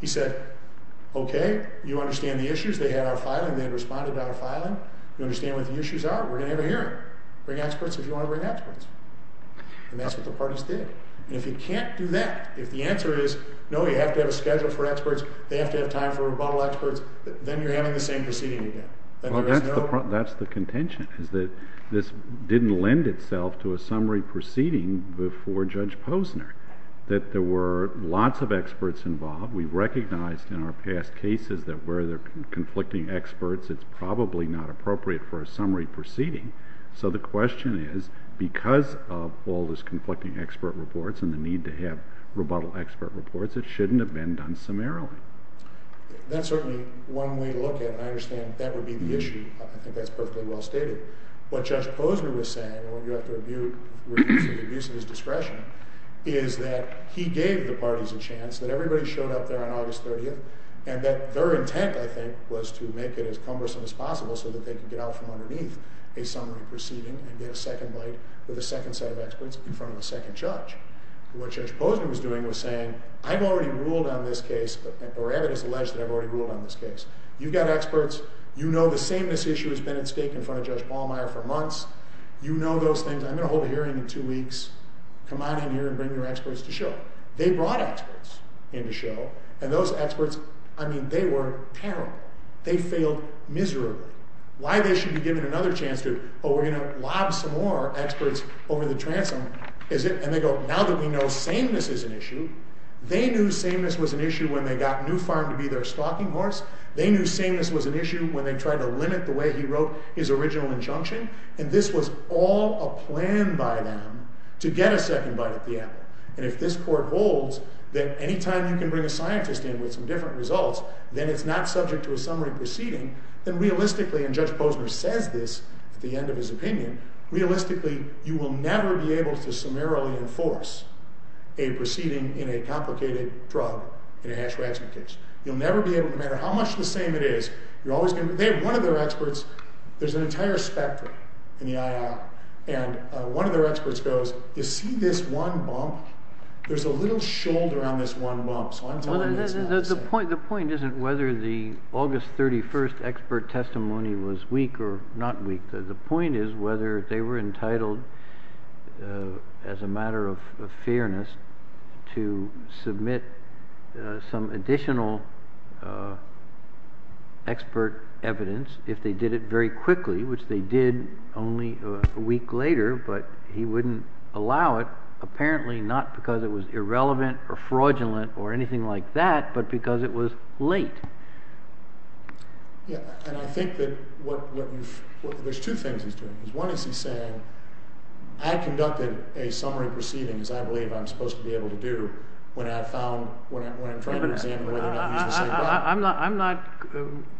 He said, OK, you understand the issues they had out of filing, they had responded out of filing, you understand what the issues are, we're going to have a hearing. Bring experts if you want to bring experts. And that's what the parties did. And if you can't do that, if the answer is, no, you have to have a schedule for experts, they have to have time for rebuttal experts, then you're having the same proceeding again. That's the contention, is that this didn't lend itself to a summary proceeding before Judge Posner, that there were lots of experts involved. We recognized in our past cases that where there are conflicting experts, it's probably not appropriate for a summary proceeding. So the question is, because of all this conflicting expert reports and the need to have rebuttal expert reports, it shouldn't have been done summarily. That's certainly one way to look at it, and I understand that would be the issue. I think that's perfectly well stated. What Judge Posner was saying, and what you have to rebute for the abuse of his discretion, is that he gave the parties a chance, that everybody showed up there on August 30th, and that their intent, I think, was to make it as cumbersome as possible so that they can get out from underneath a summary proceeding and get a second bite with a second set of experts in front of a second judge. What Judge Posner was doing was saying, I've already ruled on this case, or Abbott has alleged that I've already ruled on this case. You've got experts, you know the sameness issue has been at stake in front of Judge Ballmeyer for months. You know those things. I'm going to hold a hearing in two weeks. Come on in here and bring your experts to show. They brought experts in to show, and those experts, I mean, they were terrible. They failed miserably. Why they should be given another chance to, oh, we're going to lob some more experts over the transom, is it? And they go, now that we know sameness is an issue, they knew sameness was an issue when they got New Farm to be their stalking horse. They knew sameness was an issue when they tried to limit the way he wrote his original injunction, and this was all a plan by them to get a second bite at the apple. And if this court holds that anytime you can bring a scientist in with some different results, then it's not subject to a summary proceeding, then realistically, and Judge Posner says this at the end of his opinion, realistically, you will never be able to summarily enforce a proceeding in a complicated drug, in a hash ratcheting case. You'll never be able, no matter how much the same it is, you're always going to, they have one of their experts, there's an entire spectrum in the IR, and one of their experts goes, you see this one bump? There's a little shoulder on this one bump, so I'm telling you it's not the same. The point isn't whether the August 31st expert testimony was weak or not weak. The point is whether they were entitled, as a matter of fairness, to submit some additional expert evidence, if they did it very quickly, which they did only a week later, but he wouldn't allow it, apparently not because it was irrelevant or fraudulent or anything like that, but because it was late. Yeah, and I think that what you've, there's two things he's doing. One is he's saying, I conducted a summary proceeding, as I believe I'm supposed to be able to do, when I found, when I'm not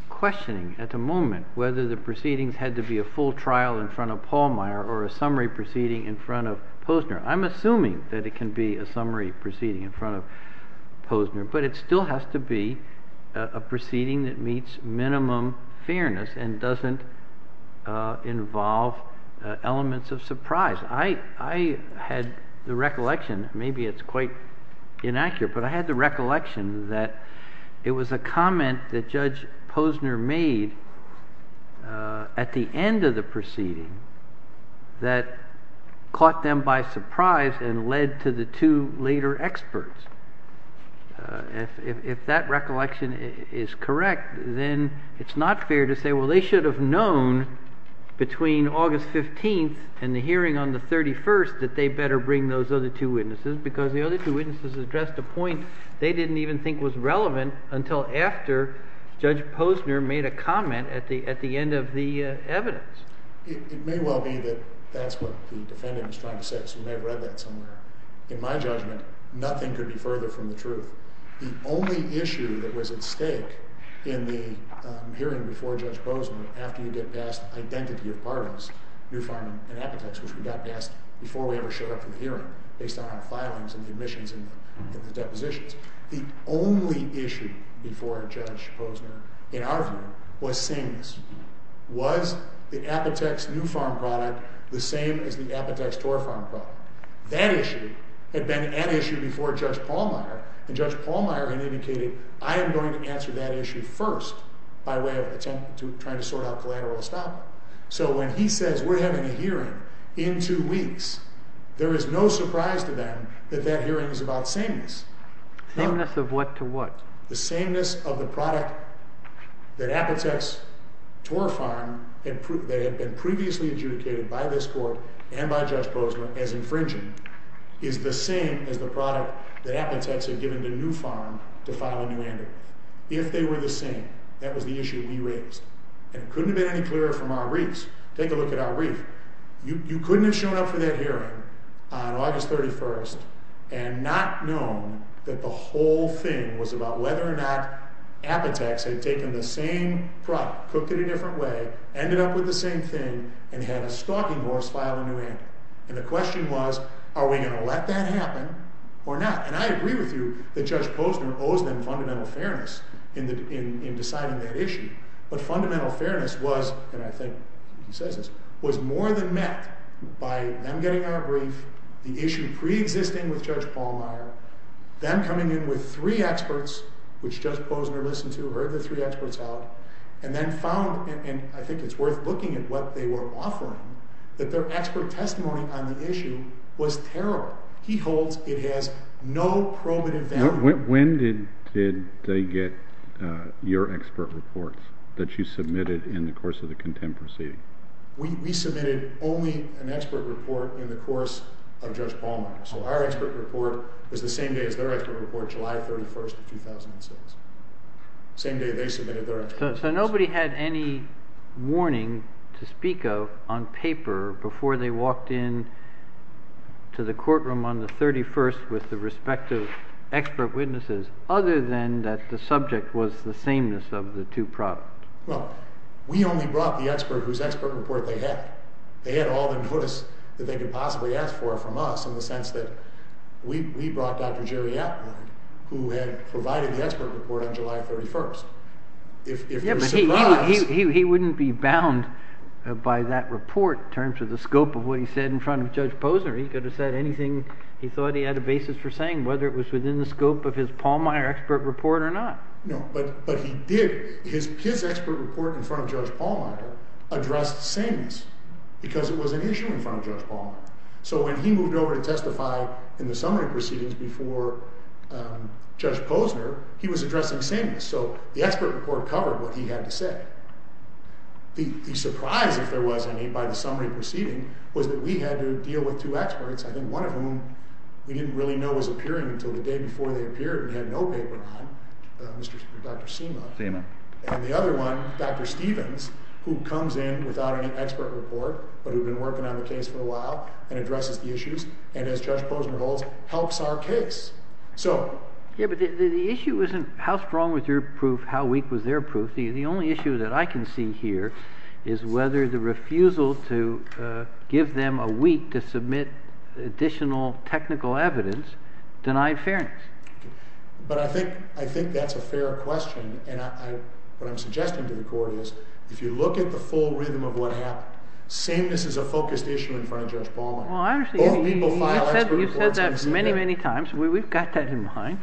questioning at the moment, whether the proceedings had to be a full trial in front of Pallmeyer or a summary proceeding in front of Posner. I'm assuming that it can be a summary proceeding in front of Posner, but it still has to be a proceeding that meets minimum fairness and doesn't involve elements of surprise. I had the recollection, maybe it's quite inaccurate, but I had the comment that Judge Posner made at the end of the proceeding that caught them by surprise and led to the two later experts. If that recollection is correct, then it's not fair to say, well, they should have known between August 15th and the hearing on the 31st that they better bring those other two witnesses because the other two witnesses addressed a point they didn't even think was relevant until after Judge Posner made a comment at the end of the evidence. It may well be that that's what the defendant was trying to say, so you may have read that somewhere. In my judgment, nothing could be further from the truth. The only issue that was at stake in the hearing before Judge Posner, after you get past identity of parties, New Farm and Epitex, which we got past before we ever showed up for the hearing, based on our filings and the admissions and the depositions, the only issue before Judge Posner in our view was sameness. Was the Epitex New Farm product the same as the Epitex Tor Farm product? That issue had been an issue before Judge Pallmeyer, and Judge Pallmeyer had indicated, I am going to answer that issue first by way of attempt to try to sort out collateral estoppel. So when he says we're having a hearing in two weeks, there is no surprise to them that that hearing is about sameness. Sameness of what to what? The sameness of the product that Epitex Tor Farm, that had been previously adjudicated by this court and by Judge Posner as infringing, is the same as the product that Epitex had given to New Farm to file a new entry. If they were the same, that was the issue we raised, and couldn't have been any clearer from our reefs. Take a look at our reef. You couldn't have shown up for that hearing on August 31st and not known that the whole thing was about whether or not Epitex had taken the same product, cooked it a different way, ended up with the same thing, and had a stalking horse file a new entry. And the question was, are we going to let that happen or not? And I agree with you that Judge Posner owes them fundamental fairness in deciding that issue. But fundamental fairness was, and I think he says this, was more than met by them getting our brief, the issue pre-existing with Judge Pallmeyer, them coming in with three experts, which Judge Posner listened to, heard the three experts out, and then found, and I think it's worth looking at what they were offering, that their expert testimony on the issue was terrible. He holds it has no probative value. When did they get your expert reports that you submitted in the course of the contempt proceeding? We submitted only an expert report in the course of Judge Pallmeyer. So our expert report was the same day as their expert report, July 31st of 2006. Same day they submitted their expert report. So nobody had any warning to speak of on paper before they walked in to the courtroom on the 31st with the respective expert witnesses, other than that the subject was the sameness of the two problems. Well, we only brought the expert whose expert report they had. They had all the notice that they could possibly ask for from us in the sense that we brought Dr. Jerry Atwood, who had provided the expert report on July 31st. If you're surprised... Yeah, but he wouldn't be bound by that report in terms of the scope of what he said in front of Judge Posner. He could have said anything he thought he had a basis for saying, whether it was within the scope of his Pallmeyer expert report or not. No, but he did. His expert report in front of Judge Pallmeyer addressed sameness because it was an issue in front of Judge Pallmeyer. So when he moved over to testify in the summary proceedings before Judge Posner, he was addressing sameness. So the expert report covered what he had to say. The surprise, if there was any, by the summary proceeding was that we had to deal with two experts, I think one of whom we didn't really know was appearing until the day before they appeared and had no paper on, Dr. Seema. And the other one, Dr. Stevens, who comes in without any expert report, but who had been working on the case for a while and addresses the issues and, as Judge Posner holds, helps our case. Yeah, but the issue isn't how strong was your proof, how weak was their proof. The only issue that I can see here is whether the refusal to give them a week to submit additional technical evidence denied fairness. But I think that's a fair question. And what I'm suggesting to the Court is, if you look at the full rhythm of what happened, sameness is a focused issue in front of Judge Pallmeyer. Well, I understand. Or legal file expert reports. You've said that many, many times. We've got that in mind.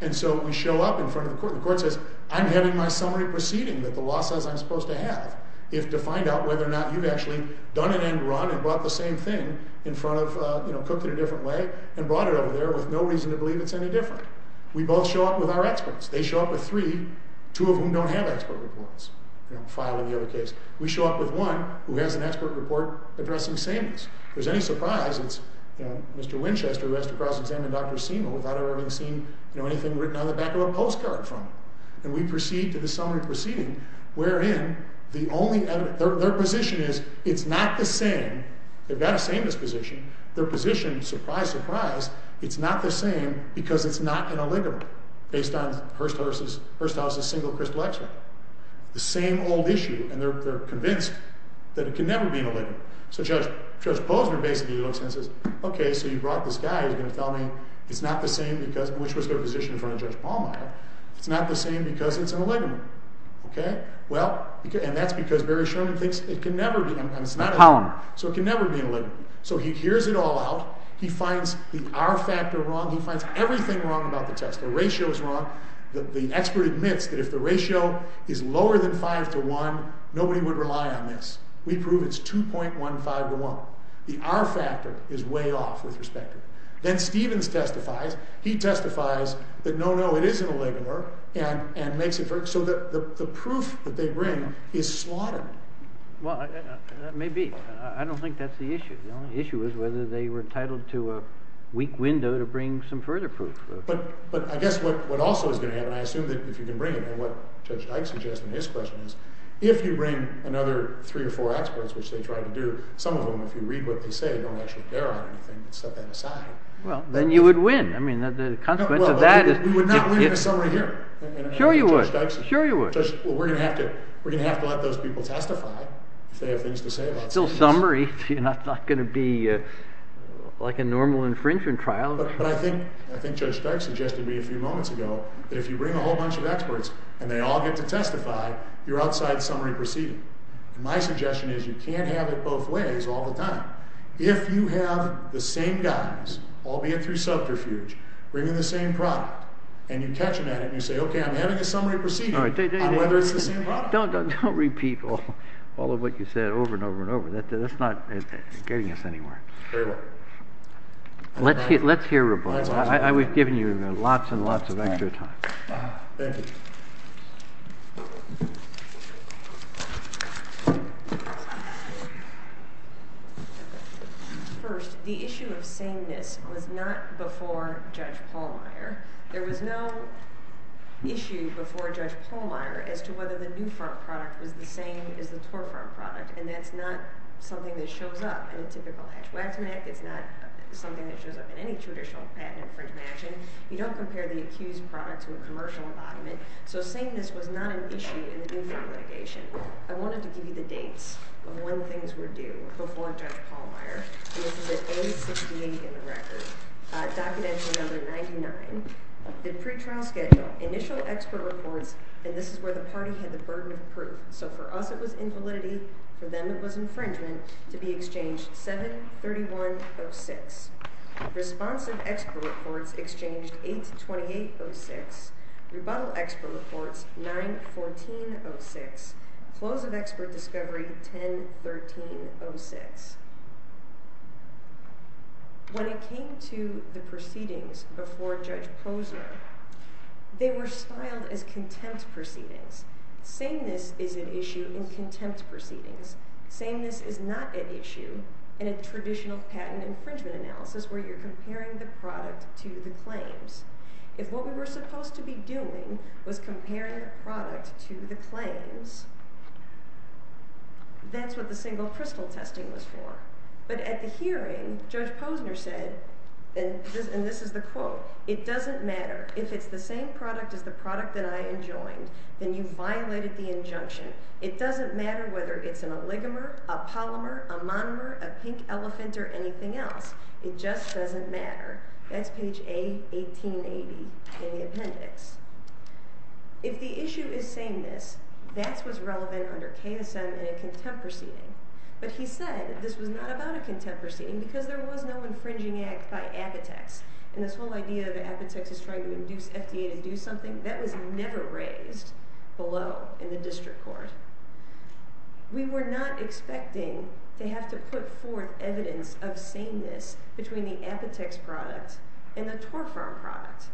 And so we show up in front of the Court. The Court says, I'm having my summary proceeding that the law says I'm supposed to have to find out whether or not you've actually done an end run and brought the same thing in front of, you know, an audit over there with no reason to believe it's any different. We both show up with our experts. They show up with three, two of whom don't have expert reports. You know, five in the other case. We show up with one who has an expert report addressing sameness. If there's any surprise, it's, you know, Mr. Winchester, who has to cross-examine Dr. Seema without ever having seen, you know, anything written on the back of a postcard from him. And we proceed to the summary proceeding, wherein the only evidence, their position is it's not the same. They've got a sameness position. Their position, surprise, surprise, it's not the same because it's not an oligomer based on Hearst House's single crystal X-ray. The same old issue. And they're convinced that it can never be an oligomer. So Judge Posner basically looks and says, okay, so you brought this guy. He's going to tell me it's not the same because, which was their position in front of Judge Pallmeyer. It's not the same because it's an oligomer. Okay. Well, and that's because Barry Sherman thinks it can never be an oligomer. So it can never be an oligomer. So he hears it all out. He finds the R-factor wrong. He finds everything wrong about the test. The ratio is wrong. The expert admits that if the ratio is lower than 5 to 1, nobody would rely on this. We prove it's 2.15 to 1. The R-factor is way off with respect. Then Stevens testifies. He testifies that no, no, it is an oligomer and makes it so that the proof that they bring is slaughtered. Well, that may be. I don't think that's the issue. The only issue is whether they were entitled to a weak window to bring some further proof. But, but I guess what, what also is going to happen, I assume that if you can bring it, and what Judge Dyke suggests in his question is, if you bring another three or four experts, which they tried to do, some of them, if you read what they say, they don't actually bear on anything, but set that aside. Well, then you would win. I mean, the consequence of that is, we would not win a summary hearing. Sure you would. Sure you would. Well, we're going to have to, we're going to have to let those people testify if they have things to say about this. It's still summary. You know, it's not going to be like a normal infringement trial. But, but I think, I think Judge Dyke suggested to me a few moments ago, that if you bring a whole bunch of experts and they all get to testify, you're outside the summary proceeding. And my suggestion is you can't have it both ways all the time. If you have the same guys, albeit through subterfuge, bringing the same product, and you catch them at it, and you say, okay, I'm having a summary proceeding, on whether it's the same product. Don't, don't, don't repeat all, all of what you said over and over and over. That's not getting us anywhere. Fair enough. Let's hear, let's hear rebuttal. I, I, we've given you lots and lots of extra time. Thank you. First, the issue of sameness was not before Judge Pallmeyer. There was no issue before Judge Pallmeyer as to whether the New Farm product was the same as the Torfarm product. And that's not something that shows up in a typical Hatch-Waxman Act. It's not something that shows up in any traditional patent infringement action. You don't compare the accused product to a commercial embodiment. So sameness was not an issue in the New Farm litigation. I wanted to give you the dates of when things were due before Judge Pallmeyer. This is at age 68 in the record. Documentary number 99. The pretrial schedule, initial expert reports, and this is where the party had the burden of proof. So for us, it was invalidity. For them, it was infringement, to be exchanged 7-3106. Responsive expert reports, exchanged 8-2806. Rebuttal expert reports, 9-1406. Close of expert discovery, 10-1306. When it came to the proceedings before Judge Posner, they were styled as contempt proceedings. Sameness is an issue in contempt proceedings. Sameness is not an issue in a traditional patent infringement analysis where you're comparing the product to the claims. If what we were supposed to be doing was comparing the product to the claims, that's what the single crystal testing was for. But at the hearing, Judge Posner said, and this is the quote, it doesn't matter if it's the same product as the product that I enjoined, then you violated the injunction. It doesn't matter whether it's an oligomer, a polymer, a monomer, a pink elephant, or anything else. It just doesn't matter. That's page A-1880 in the appendix. If the issue is sameness, that's what's relevant under KSM in a contempt proceeding. But he said this was not about a contempt proceeding because there was no infringing act by Apotex. And this whole idea that Apotex is trying to induce FDA to do something, that was never raised below in the district court. We were not expecting to have to put forth evidence of sameness between the Apotex product and the Torfarm product.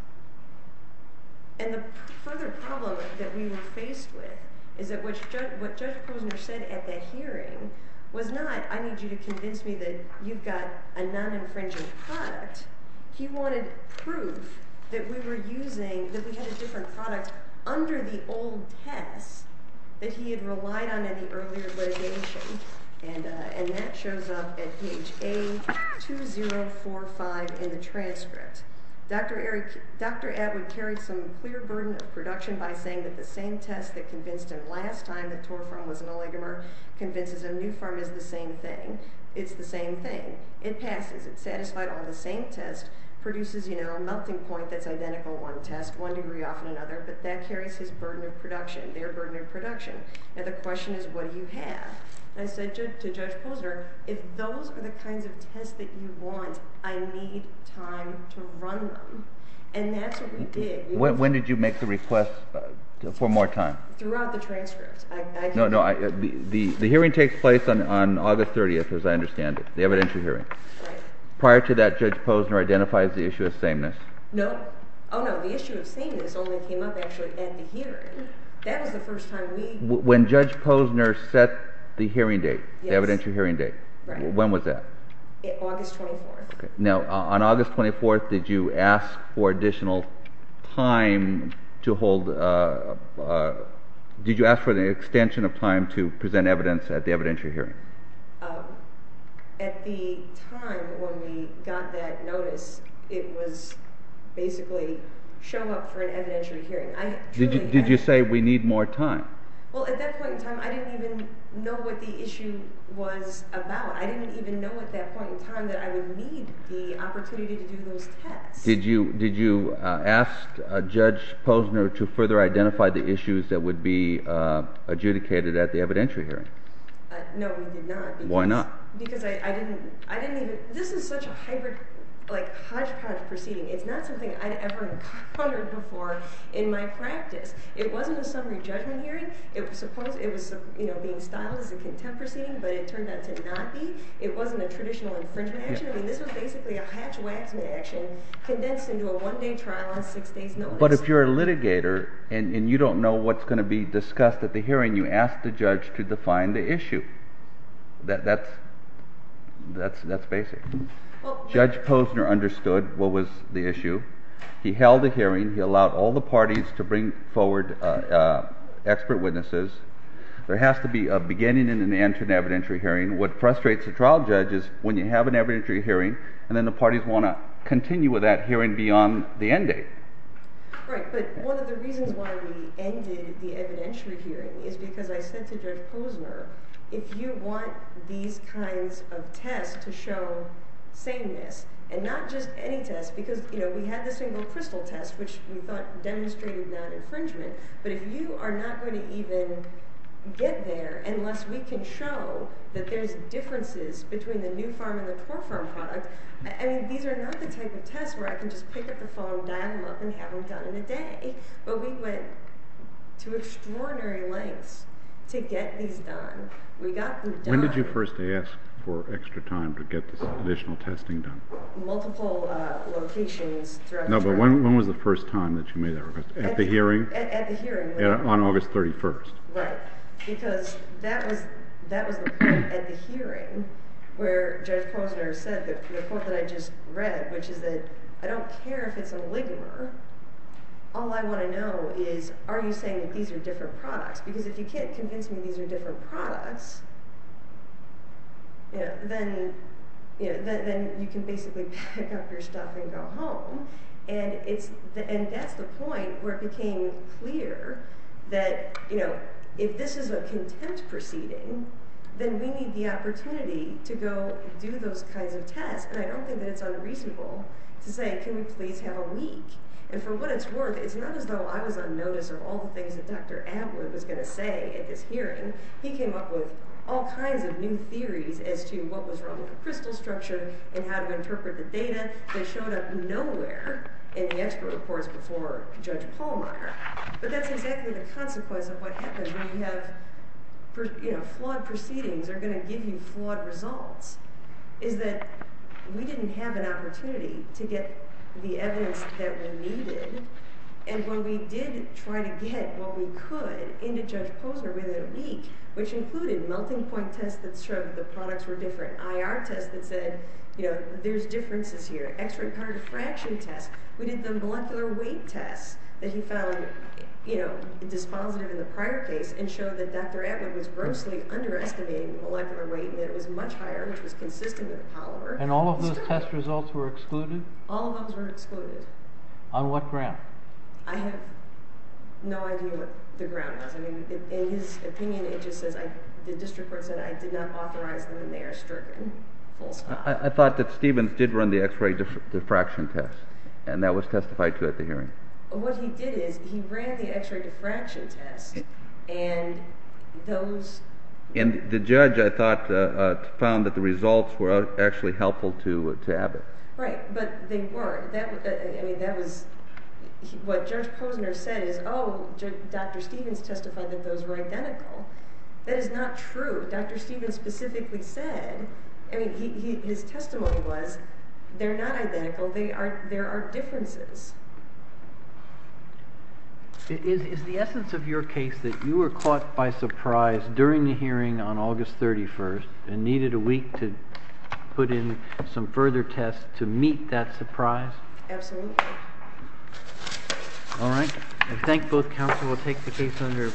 And the further problem that we were faced with is that what Judge Posner said at that hearing was not, I need you to convince me that you've got a non-infringing product. He wanted proof that we were using, that we had a different product under the old test that he had relied on in the earlier litigation. And that shows up at page A-2045 in the transcript. Dr. Atwood carried some clear burden of production by saying that the same test that convinced him last time that Torfarm was an oligomer convinces him Newpharm is the same thing. It's the same thing. It passes. It's satisfied on the same test, produces, you know, a melting point that's identical to one test, one degree off another, but that carries his burden of production, their burden of production. And the question is, what do you have? And I said to Judge Posner, if those are the kinds of tests that you want, I need time to run them. And that's what we did. When did you make the request for more time? Throughout the transcript. No, no. The hearing takes place on August 30th, as I understand it, the evidentiary hearing. Prior to that, Judge Posner identifies the issue of sameness. No. Oh, no. The issue of sameness only came up actually at the hearing. That was the first time we... When Judge Posner set the hearing date, the evidentiary hearing date, when was that? August 24th. Now, on August 24th, did you ask for additional time to hold, did you ask for the extension of time to present evidence at the evidentiary hearing? At the time when we got that notice, it was basically show up for an evidentiary hearing. Did you say we need more time? Well, at that point in time, I didn't even know what the issue was about. I didn't even know at that point in time that I would need the opportunity to do those tests. Did you ask Judge Posner to further identify the issues that would be adjudicated at the evidentiary hearing? No, we did not. Why not? Because I didn't even... This is such a hybrid, like hodgepodge proceeding. It's not something I'd ever encountered before in my practice. It wasn't a summary judgment hearing. It was being styled as a contempt proceeding, but it turned out to not be. It wasn't a traditional infringement action. I mean, this was basically a hatch-waxman action condensed into a one-day trial on six days notice. But if you're a litigator and you don't know what's going to be discussed at the hearing, you ask the judge to define the issue. That's basic. Judge Posner understood what was the issue. He held a hearing. He allowed all the parties to bring forward expert witnesses. There has to be a beginning and an end to an evidentiary hearing. What frustrates the trial judge is when you have an evidentiary hearing and then the parties want to continue with that hearing beyond the end date. Right, but one of the reasons why we ended the evidentiary hearing is because I said to Judge Posner, if you want these kinds of tests to show sameness, and not just any test, because, you know, we had the single crystal test, which we thought demonstrated non-infringement, but if you are not going to even get there unless we can show that there's differences between the new farm and the core farm product, I mean, these are not the type of tests where I can just pick up the phone, dial them up, and have them done in a day. But we went to extraordinary lengths to get these done. When did you first ask for extra time to get this additional testing done? Multiple locations throughout the trial. No, but when was the first time that you made that request? At the hearing? At the hearing. On August 31st. Right, because that was the point at the hearing where Judge Posner said, the point that I just read, which is that I don't care if it's a ligamer. All I want to know is, are you saying that these are different products? Because if you can't convince me these are different products, then you can basically pack up your stuff and go home. And that's the point where it became clear that, you know, if this is a contempt proceeding, then we need the opportunity to go do those kinds of tests. And I don't think that it's unreasonable to say, can we please have a week? And for what it's worth, it's not as though I was on notice of all the things that Dr. Abler was going to say at this hearing. He came up with all kinds of new theories as to what was wrong with the crystal structure and how to interpret the data that showed up nowhere in the expert reports before Judge Pallmeyer. But that's exactly the consequence of what happens when you have, you know, flawed proceedings are going to give you flawed results, is that we didn't have an opportunity to get the evidence that we needed. And when we did try to get what we could into Judge Posner within a week, which included melting point tests that showed the products were different, IR tests that said, you know, there's differences here, extra-cardiofraction tests. We did the molecular weight tests that he found, you know, dispositive in the prior case and showed that Dr. Abler was grossly underestimating molecular weight and it was much higher, which was consistent with Pallmeyer. And all of those test results were excluded? All of those were excluded. On what ground? I have no idea what the ground was. In his opinion, it just says, the district court said I did not authorize them and they are stricken. I thought that Stevens did run the x-ray diffraction test and that was testified to at the hearing. What he did is he ran the x-ray diffraction test and those. And the judge, I thought, found that the results were actually helpful to Abbott. Right. But they weren't. That was what Judge Posner said is, oh, Dr. Stevens testified that those were identical. That is not true. Dr. Stevens specifically said, I mean, his testimony was they're not identical. They are, there are differences. Is the essence of your case that you were caught by surprise during the hearing on August 31st and needed a week to put in some further tests to meet that surprise? Absolutely. All right. I thank both counsel. We'll take the case under advisory.